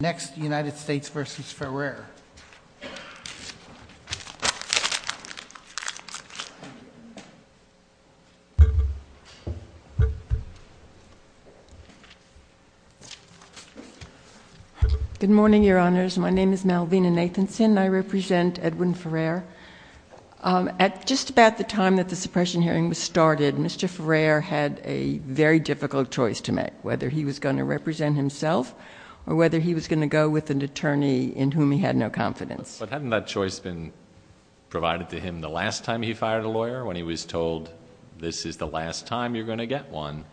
Good morning, your honors. My name is Malvina Nathanson, and I represent Edwin Ferrer. At just about the time that the suppression hearing was started, Mr. Ferrer had a very difficult choice to make, whether he was going to represent himself or whether he was going to represent the Supreme Court. He was going to go with an attorney in whom he had no confidence. But hadn't that choice been provided to him the last time he fired a lawyer, when he was told, this is the last time you're going to get one?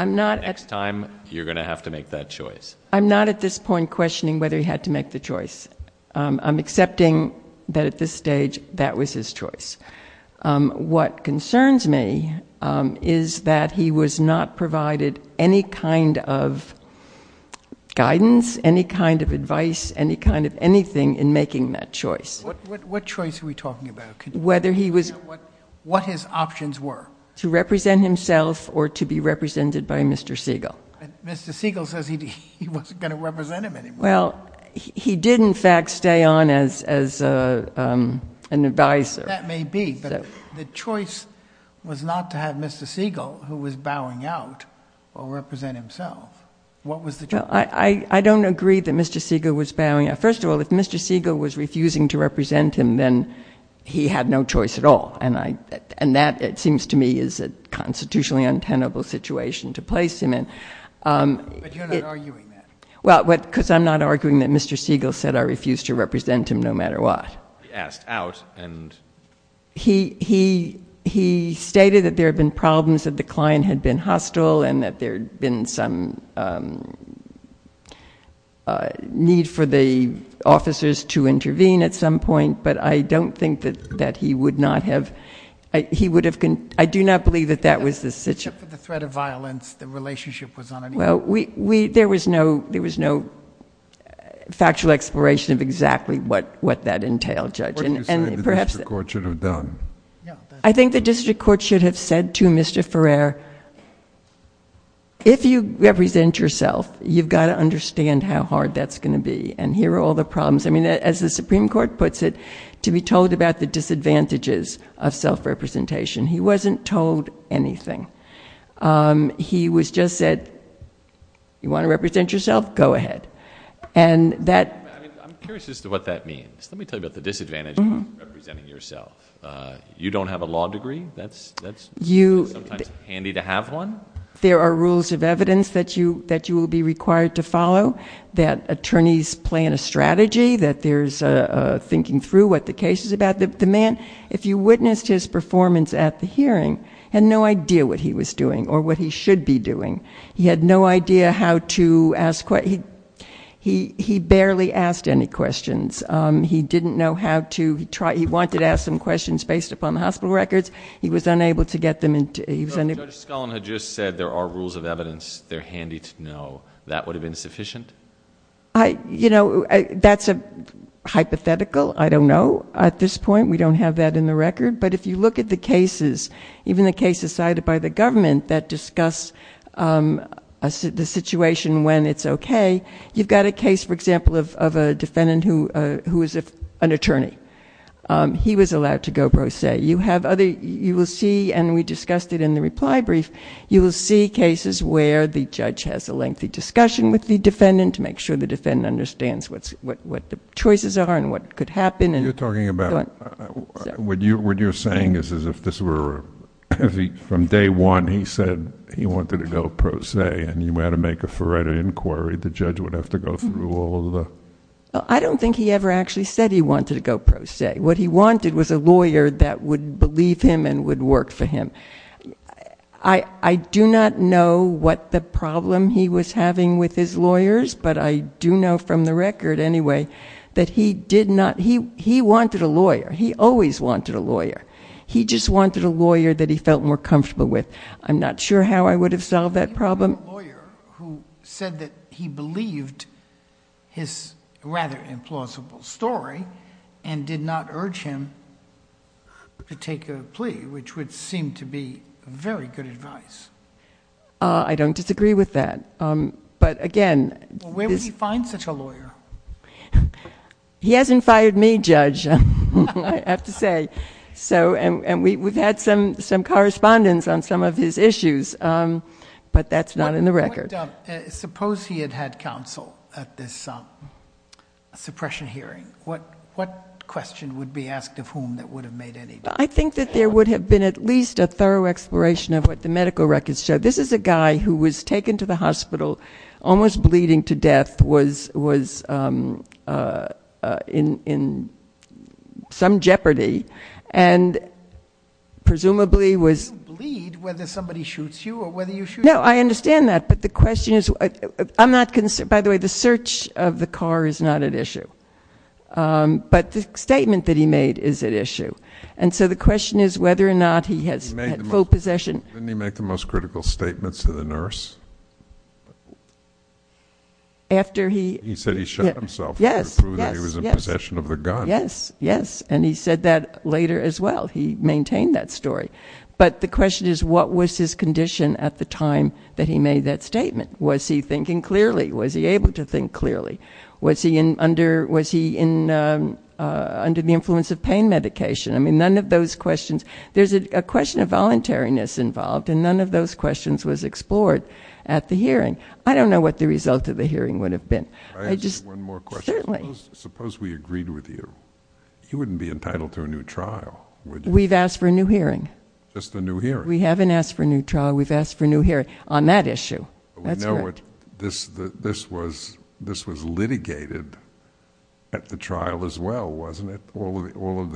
I'm not. Next time, you're going to have to make that choice. I'm not at this point questioning whether he had to make the choice. I'm accepting that at this stage, that was his choice. What concerns me is that he was not provided any kind of guidance, any kind of advice, any kind of anything in making that choice. What choice are we talking about? Whether he was... What his options were. To represent himself or to be represented by Mr. Siegel. Mr. Siegel says he wasn't going to represent him anymore. Well, he did in fact stay on as an advisor. That may be, but the choice was not to have Mr. Siegel, who was bowing out, or represent himself. What was the choice? I don't agree that Mr. Siegel was bowing out. First of all, if Mr. Siegel was refusing to represent him, then he had no choice at all. And that, it seems to me, is a constitutionally untenable situation to place him in. But you're not arguing that. Well, because I'm not arguing that Mr. Siegel said, I refuse to represent him no matter what. He asked out and... He stated that there had been problems, that the client had been hostile, and that there had been some need for the officers to intervene at some point. But I don't think that he would not have... I do not believe that that was the situation. Except for the threat of violence, the relationship was not... Well, there was no factual exploration of exactly what that entailed, Judge. What do you think the district court should have done? I think the district court should have said to Mr. Ferrer, if you represent yourself, you've got to understand how hard that's going to be, and here are all the problems. I mean, as the Supreme Court puts it, to be told about the disadvantages of self-representation, he wasn't told anything. He was just said, you want to represent yourself? Go ahead. I'm curious as to what that means. Let me tell you about the disadvantages of representing yourself. You don't have a law degree. That's sometimes handy to have one. There are rules of evidence that you will be required to follow, that attorneys plan a strategy, that there's thinking through what the case is about. The man, if you witnessed his performance at the hearing, had no idea what he was doing or what he should be doing. He had no idea how to ask questions. He barely asked any questions. He didn't know how to. He wanted to ask some questions based upon the hospital records. He was unable to get them. Judge Scullin had just said there are rules of evidence that are handy to know. That would have been sufficient? You know, that's hypothetical. At this point, we don't have that in the record. But if you look at the cases, even the cases cited by the government that discuss the situation when it's okay, you've got a case, for example, of a defendant who is an attorney. He was allowed to go pro se. You will see, and we discussed it in the reply brief, you will see cases where the judge has a lengthy discussion with the defendant to make sure the defendant understands what the choices are and what could happen. You're talking about... what you're saying is as if this were... from day one, he said he wanted to go pro se, and you had to make a forerunner inquiry. The judge would have to go through all of the... I don't think he ever actually said he wanted to go pro se. What he wanted was a lawyer that would believe him and would work for him. I do not know what the problem he was having with his lawyers, but I do know from the record anyway that he did not... He wanted a lawyer. He always wanted a lawyer. He just wanted a lawyer that he felt more comfortable with. I'm not sure how I would have solved that problem. He wanted a lawyer who said that he believed his rather implausible story and did not urge him to take a plea, which would seem to be very good advice. I don't disagree with that, but again... Where would he find such a lawyer? He hasn't fired me, Judge, I have to say. We've had some correspondence on some of his issues, but that's not in the record. Suppose he had had counsel at this suppression hearing. What question would be asked of whom that would have made any difference? I think that there would have been at least a thorough exploration of what the medical records show. This is a guy who was taken to the hospital, almost bleeding to death, was in some jeopardy, and presumably was... You bleed whether somebody shoots you or whether you shoot... No, I understand that, but the question is... By the way, the search of the car is not at issue, but the statement that he made is at issue. And so the question is whether or not he had full possession... Didn't he make the most critical statements to the nurse? After he... He said he shot himself to prove that he was in possession of the gun. Yes, yes, and he said that later as well. He maintained that story. But the question is, what was his condition at the time that he made that statement? Was he thinking clearly? Was he able to think clearly? Was he under the influence of pain medication? I mean, none of those questions... There's a question of voluntariness involved, and none of those questions was explored at the hearing. I don't know what the result of the hearing would have been. I just... I ask you one more question. Certainly. Suppose we agreed with you. You wouldn't be entitled to a new trial, would you? We've asked for a new hearing. Just a new hearing. We haven't asked for a new trial. We've asked for a new hearing on that issue. That's correct. This was litigated at the trial as well, wasn't it? All of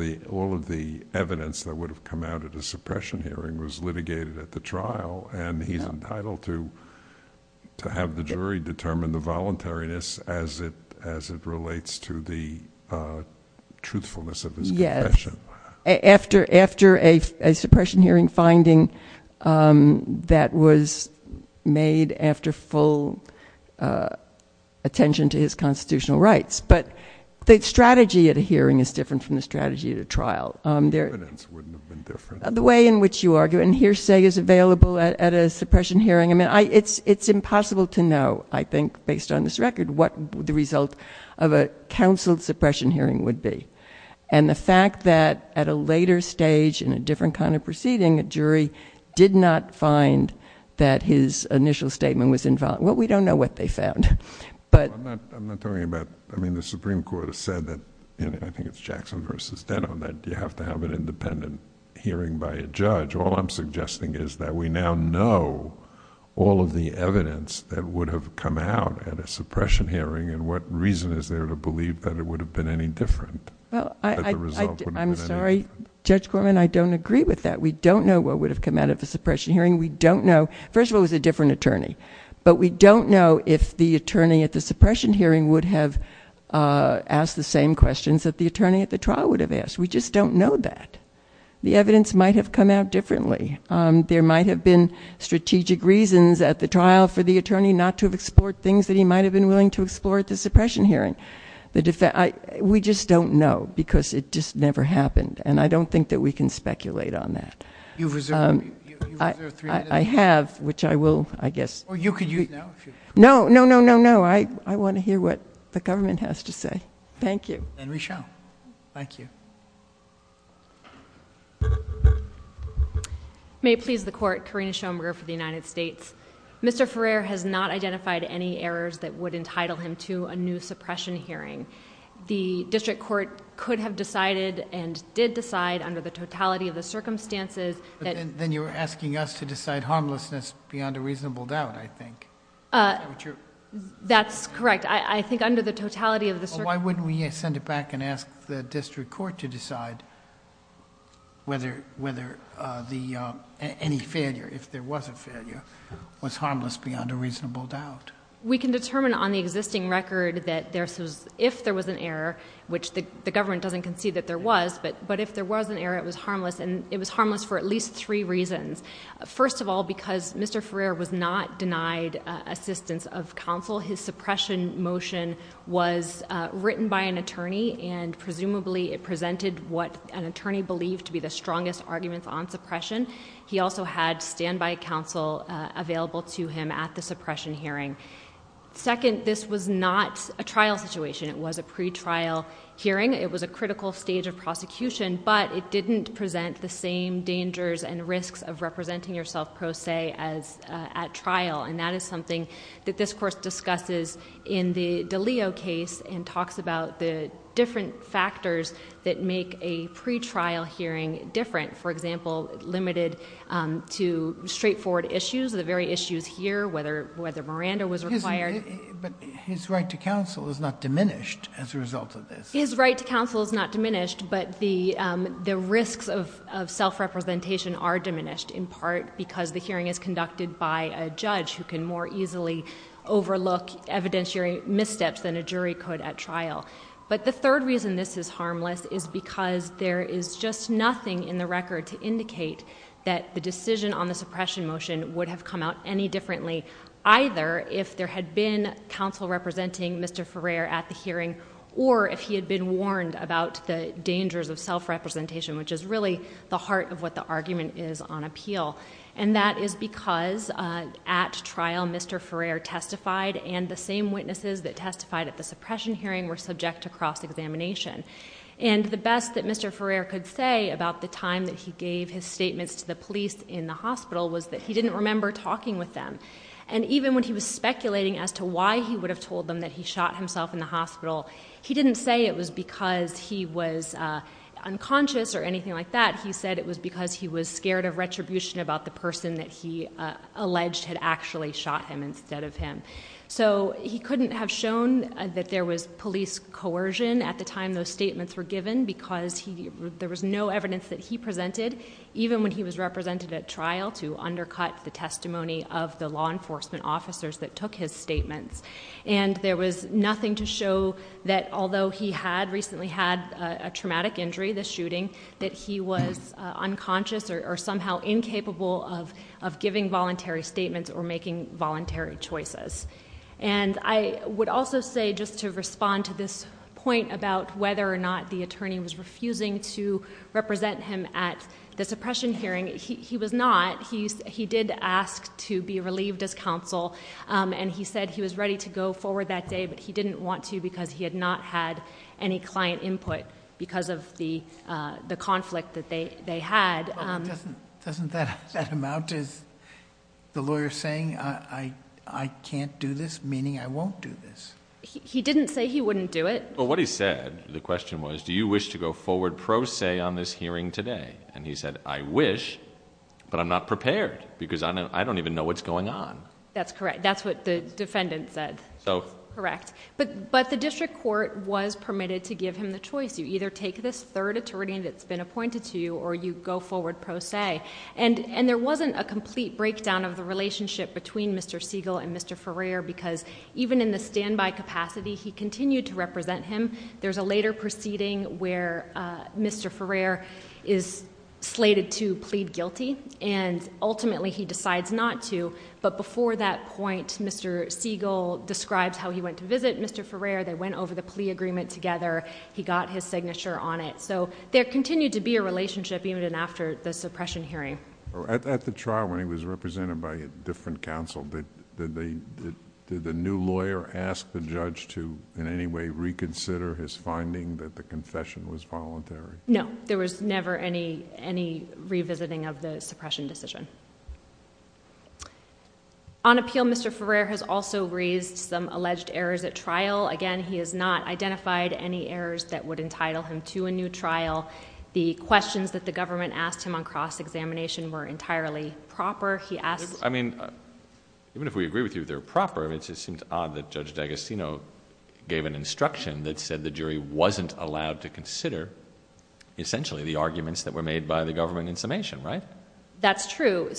the evidence that would have come out at a suppression hearing was litigated at the trial, and he's entitled to have the jury determine the voluntariness as it relates to the truthfulness of his confession. After a suppression hearing finding that was made after full attention to his constitutional rights. But the strategy at a hearing is different from the strategy at a trial. The evidence wouldn't have been different. The way in which you argue and hearsay is available at a suppression hearing... I mean, it's impossible to know, I think, based on this record, what the result of a counseled suppression hearing would be. And the fact that at a later stage in a different kind of proceeding, a jury did not find that his initial statement was... Well, we don't know what they found, but... I'm not talking about... I mean, the Supreme Court has said that... I think it's Jackson versus Denham that you have to have an independent hearing by a judge. All I'm suggesting is that we now know all of the evidence that would have come out at a suppression hearing, and what reason is there to believe that it would have been any different? Well, I... That the result would have been any different. I'm sorry, Judge Gorman, I don't agree with that. We don't know what would have come out of a suppression hearing. We don't know. First of all, it was a different attorney. But, we don't know if the attorney at the suppression hearing would have asked the same questions that the attorney at the trial would have asked. We just don't know that. The evidence might have come out differently. There might have been strategic reasons at the trial for the attorney not to have explored things that he might have been willing to explore at the suppression hearing. The defense... We just don't know, because it just never happened, and I don't think that we can speculate on that. You've reserved... I have, which I will, I guess... Well, you could use now if you... No, no, no, no, no. I want to hear what the government has to say. Thank you. And we shall. Thank you. May it please the Court. Karina Schoenberger for the United States. Mr. Ferrer has not identified any errors that would entitle him to a new suppression hearing. The district court could have decided and did decide under the totality of the circumstances... Then, you're asking us to decide harmlessness beyond a reasonable doubt, I think. Is that what you're... That's correct. I think under the totality of the... Well, why wouldn't we send it back and ask the district court to decide whether any failure, if there was a failure, was harmless beyond a reasonable doubt? We can determine on the existing record that if there was an error, which the government doesn't concede that there was, but if there was an error, it was harmless, and it was harmless for at least three reasons. First of all, because Mr. Ferrer was not denied assistance of counsel. His suppression motion was written by an attorney, and presumably it presented what an attorney believed to be the strongest arguments on suppression. He also had standby counsel available to him at the suppression hearing. Second, this was not a trial situation. It was a pretrial hearing. It was a critical stage of prosecution, but it didn't present the same dangers and risks of representing yourself pro se at trial, and that is something that this course discusses in the DiLeo case and talks about the different factors that make a pretrial hearing different. For example, limited to straightforward issues, the very issues here, whether Miranda was required... But his right to counsel is not diminished as a result of this. His right to counsel is not diminished, but the risks of self-representation are diminished, in part because the hearing is conducted by a judge who can more easily overlook evidentiary missteps than a jury could at trial. But the third reason this is harmless is because there is just nothing in the record to indicate that the decision on the suppression motion would have come out any differently, either if there had been counsel representing Mr. Ferrer at the hearing or if he had been warned about the dangers of self-representation, which is really the heart of what the argument is on appeal. And that is because at trial, Mr. Ferrer testified and the same witnesses that testified at the suppression hearing were subject to cross-examination. And the best that Mr. Ferrer could say about the time that he gave his statements to the police in the hospital was that he didn't remember talking with them. And even when he was speculating as to why he would have told them that he shot himself in the hospital, he didn't say it was because he was unconscious or anything like that. He said it was because he was scared of retribution about the person that he alleged had actually shot him instead of him. So he couldn't have shown that there was police coercion at the time those statements were given because there was no evidence that he presented, even when he was represented at trial to undercut the testimony of the law enforcement officers that took his statements. And there was nothing to show that although he had recently had a traumatic injury, the shooting, that he was unconscious or somehow incapable of giving voluntary statements or making voluntary choices. And I would also say just to respond to this point about whether or not the attorney was refusing to represent him at the suppression hearing. He was not. He did ask to be relieved as counsel and he said he was ready to go forward that day, but he didn't want to because he had not had any client input because of the conflict that they had. Doesn't that amount to the lawyer saying I can't do this, meaning I won't do this? He didn't say he wouldn't do it. But what he said, the question was, do you wish to go forward pro se on this hearing today? And he said, I wish, but I'm not prepared because I don't even know what's going on. That's correct. That's what the defendant said. Correct. But the district court was permitted to give him the choice. You either take this third attorney that's been appointed to you or you go forward pro se. And there wasn't a complete breakdown of the relationship between Mr. Siegel and Mr. Ferrer because even in the standby capacity, he continued to represent him. There's a later proceeding where Mr. Ferrer is slated to plead guilty and ultimately he decides not to. But before that point, Mr. Siegel describes how he went to visit Mr. Ferrer. They went over the plea agreement together. He got his signature on it. So there continued to be a relationship even after the suppression hearing. At the trial when he was represented by a different counsel, did the new lawyer ask the judge to in any way reconsider his finding that the confession was voluntary? No. There was never any revisiting of the suppression decision. On appeal, Mr. Ferrer has also raised some alleged errors at trial. Again, he has not identified any errors that would entitle him to a new trial. The questions that the government asked him on cross-examination were entirely proper. I mean, even if we agree with you they're proper, it just seems odd that Judge D'Agostino gave an instruction that said the jury wasn't allowed to consider essentially the arguments that were made by the government in summation, right? That's true.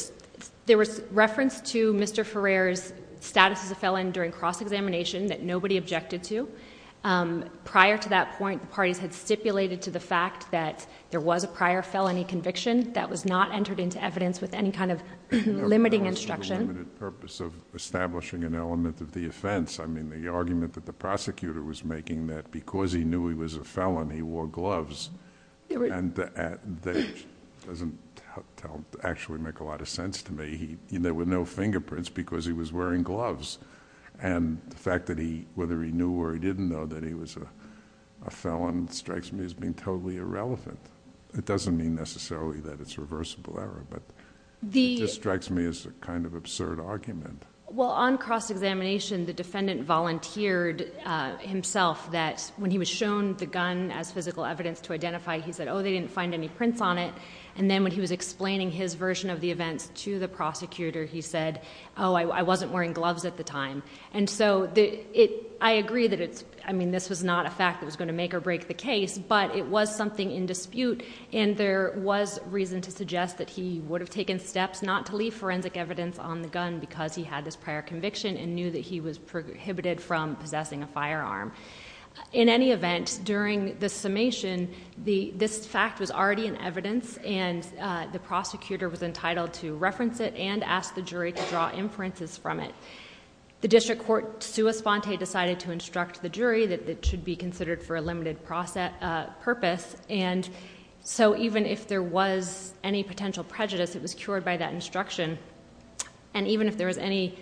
There was reference to Mr. Ferrer's status as a felon during cross-examination that nobody objected to. Prior to that point, the parties had stipulated to the fact that there was a prior felony conviction that was not entered into evidence with any kind of limiting instruction. I mean, the argument that the prosecutor was making that because he knew he was a felon he wore gloves doesn't actually make a lot of sense to me. There were no fingerprints because he was wearing gloves. And the fact that whether he knew or he didn't know that he was a felon strikes me as being totally irrelevant. It doesn't mean necessarily that it's reversible error, but it just strikes me as a kind of absurd argument. Well, on cross-examination the defendant volunteered himself that when he was shown the gun as physical evidence to identify he said, oh, they didn't find any prints on it. And then when he was explaining his version of the events to the prosecutor he said, oh, I wasn't wearing gloves at the time. And so I agree that it's, I mean, this was not a fact that was going to make or break the case, but it was something in dispute. And there was reason to suggest that he would have taken steps not to leave forensic evidence on the gun because he had this prior conviction and knew that he was prohibited from possessing a firearm. In any event, during the summation this fact was already in evidence and the prosecutor was entitled to reference it and ask the jury to draw inferences from it. The district court sua sponte decided to instruct the jury that it should be considered for a limited purpose. And so even if there was any potential prejudice, it was cured by that instruction. And even if there was any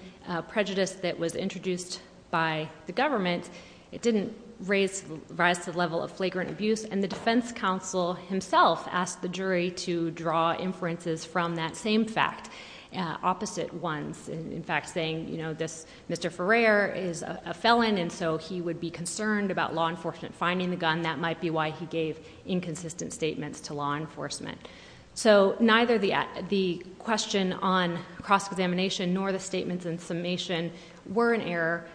prejudice that was introduced by the government, it didn't raise, rise to the level of flagrant abuse. And the defense counsel himself asked the jury to draw inferences from that same fact, opposite ones. In fact, saying, you know, this Mr. Ferrer is a felon and so he would be concerned about law enforcement finding the gun. That might be why he gave inconsistent statements to law enforcement. So neither the question on cross-examination nor the statements in summation were an error,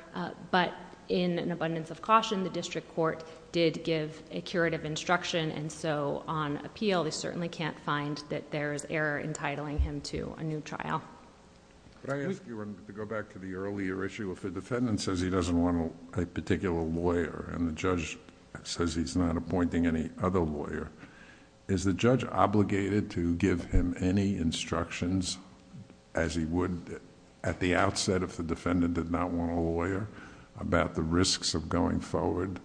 but in an abundance of caution, the district court did give a curative instruction. And so on appeal, they certainly can't find that there is error entitling him to a new trial. Could I ask you to go back to the earlier issue? If the defendant says he doesn't want a particular lawyer and the judge says he's not appointing any other lawyer, is the judge obligated to give him any instructions as he would at the outset if the defendant did not want a lawyer about the risks of going forward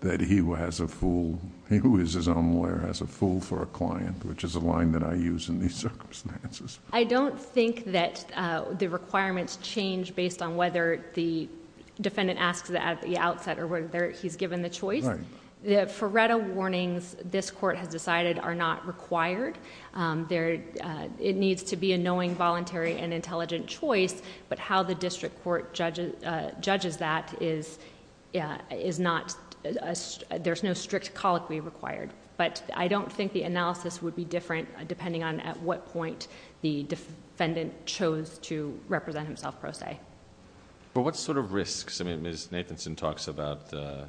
that he who has a fool... he who is his own lawyer has a fool for a client, which is a line that I use in these circumstances. I don't think that the requirements change based on whether the defendant asks that at the outset or whether he's given the choice. Right. The Ferretta warnings this court has decided are not required. It needs to be a knowing, voluntary, and intelligent choice, but how the district court judges that is not... the defendant chose to represent himself pro se. But what sort of risks... I mean, Ms. Nathanson talks about the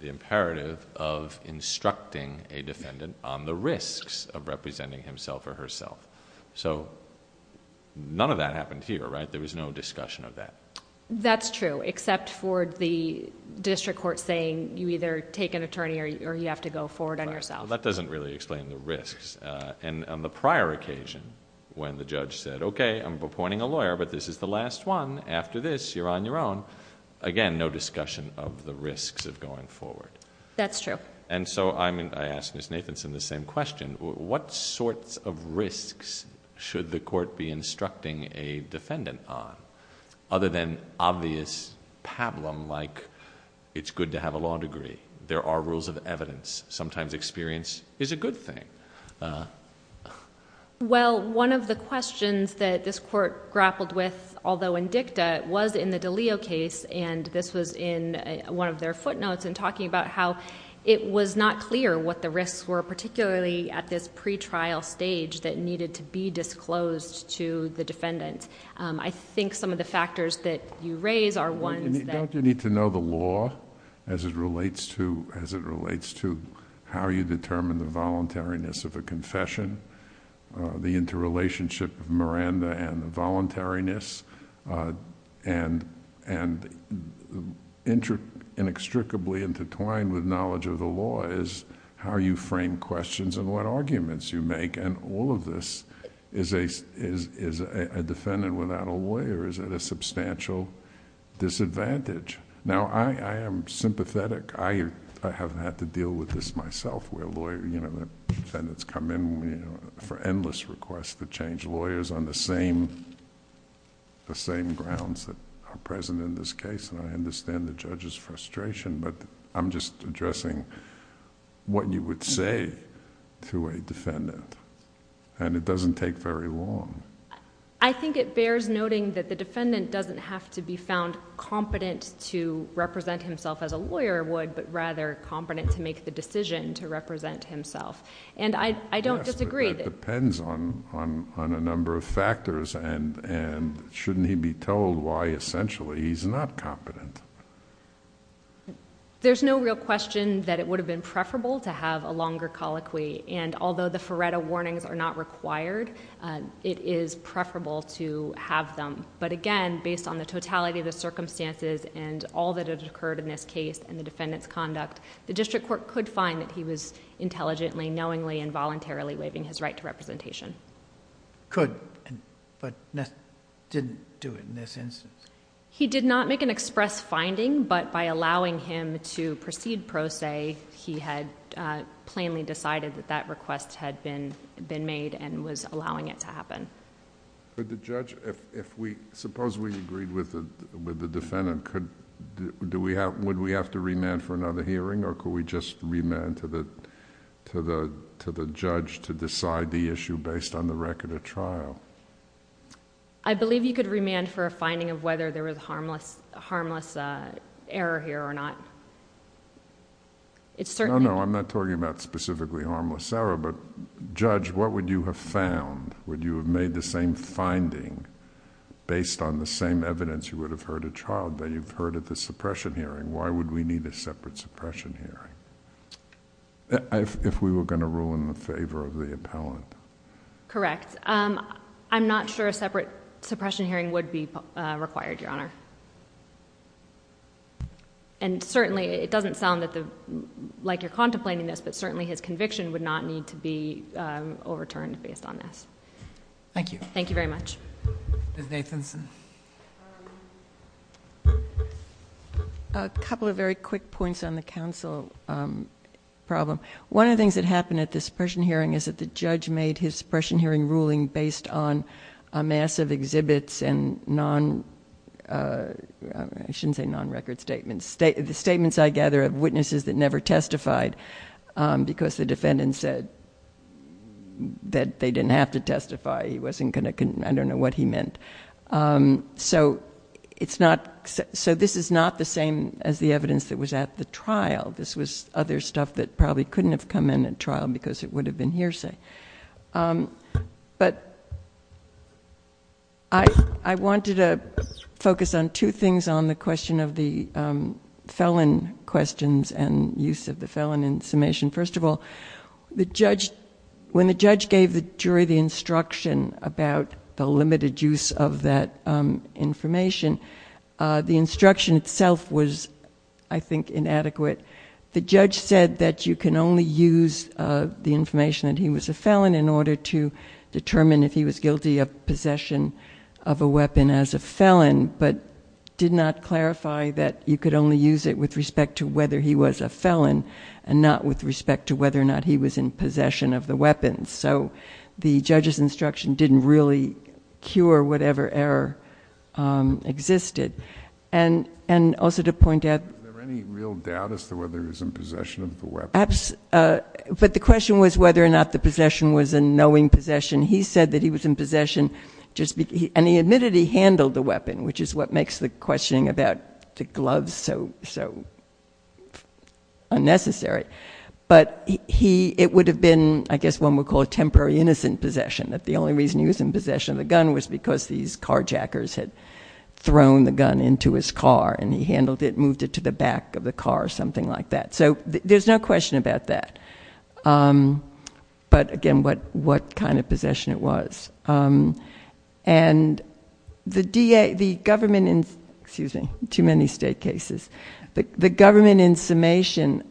imperative of instructing a defendant on the risks of representing himself or herself. So none of that happened here, right? There was no discussion of that. That's true, except for the district court saying you either take an attorney or you have to go forward on yourself. That doesn't really explain the risks. And on the prior occasion, when the judge said, okay, I'm appointing a lawyer, but this is the last one. After this, you're on your own. Again, no discussion of the risks of going forward. That's true. And so I ask Ms. Nathanson the same question. What sorts of risks should the court be instructing a defendant on? Other than obvious pablum like it's good to have a law degree. There are rules of evidence. Sometimes experience is a good thing. Well, one of the questions that this court grappled with, although in dicta, was in the DiLeo case, and this was in one of their footnotes and talking about how it was not clear what the risks were, particularly at this pretrial stage that needed to be disclosed to the defendant. I think some of the factors that you raise are ones that... Don't you need to know the law as it relates to how you determine the voluntariness of a confession, the interrelationship of Miranda and the voluntariness, and inextricably intertwined with knowledge of the law is how you frame questions and what arguments you make. All of this is a defendant without a lawyer is at a substantial disadvantage. Now, I am sympathetic. I have had to deal with this myself where a lawyer... Defendants come in for endless requests to change lawyers on the same grounds that are present in this case. I understand the judge's frustration, but I'm just addressing what you would say to a defendant, and it doesn't take very long. I think it bears noting that the defendant doesn't have to be found competent to represent himself as a lawyer would, but rather competent to make the decision to represent himself. There's no real question that it would have been preferable to have a longer colloquy, and although the Ferretta warnings are not required, it is preferable to have them. But again, based on the totality of the circumstances and all that had occurred in this case and the defendant's conduct, the district court could find that he was intelligently, knowingly, and voluntarily waiving his right to representation. Could, but didn't do it in this instance? He did not make an express finding, but by allowing him to proceed pro se, he had plainly decided that that request had been made and was allowing it to happen. Could the judge... if we... suppose we agreed with the defendant, would we have to remand for another hearing, or could we just remand to the judge to decide the issue based on the record of trial? I believe you could remand for a finding of whether there was harmless error here or not. No, no, I'm not talking about specifically harmless error, but judge, what would you have found? Would you have made the same finding based on the same evidence you would have heard at trial, that you've heard at the suppression hearing? Why would we need a separate suppression hearing if we were going to rule in the favor of the appellant? Correct. I'm not sure a separate suppression hearing would be required, Your Honor. And certainly, it doesn't sound like you're contemplating this, but certainly his conviction would not need to be overturned based on this. Thank you. Thank you very much. Ms. Nathanson. A couple of very quick points on the counsel problem. One of the things that happened at the suppression hearing is that the judge made his suppression hearing ruling based on a mass of exhibits and non-record statements. The statements, I gather, of witnesses that never testified because the defendant said that they didn't have to testify. I don't know what he meant. So this is not the same as the evidence that was at the trial. This was other stuff that probably couldn't have come in at trial because it would have been hearsay. But I wanted to focus on two things on the question of the felon questions and use of the felon in summation. First of all, when the judge gave the jury the instruction about the limited use of that information, the instruction itself was, I think, inadequate. The judge said that you can only use the information that he was a felon in order to determine if he was guilty of possession of a weapon as a felon, but did not clarify that you could only use it with respect to whether he was a felon and not with respect to whether or not he was in possession of the weapon. So the judge's instruction didn't really cure whatever error existed. And also to point out— Was there any real doubt as to whether he was in possession of the weapon? But the question was whether or not the possession was a knowing possession. He said that he was in possession, and he admitted he handled the weapon, which is what makes the questioning about the gloves so unnecessary. But it would have been, I guess, what one would call a temporary innocent possession, that the only reason he was in possession of the gun was because these carjackers had thrown the gun into his car and he handled it and moved it to the back of the car or something like that. So there's no question about that. But, again, what kind of possession it was. And the government in—excuse me, too many state cases. The government in summation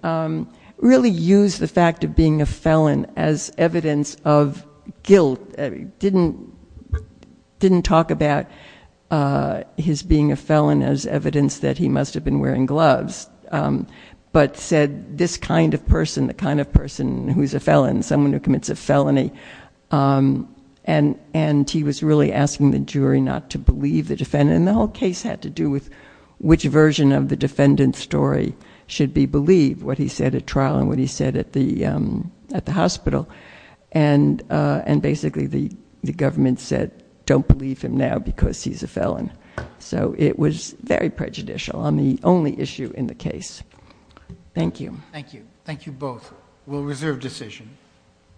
really used the fact of being a felon as evidence of guilt, didn't talk about his being a felon as evidence that he must have been wearing gloves, but said this kind of person, the kind of person who's a felon, someone who commits a felony, and he was really asking the jury not to believe the defendant. And the whole case had to do with which version of the defendant's story should be believed, what he said at trial and what he said at the hospital. And basically the government said don't believe him now because he's a felon. So it was very prejudicial on the only issue in the case. Thank you. Thank you. Thank you both. We'll reserve decision.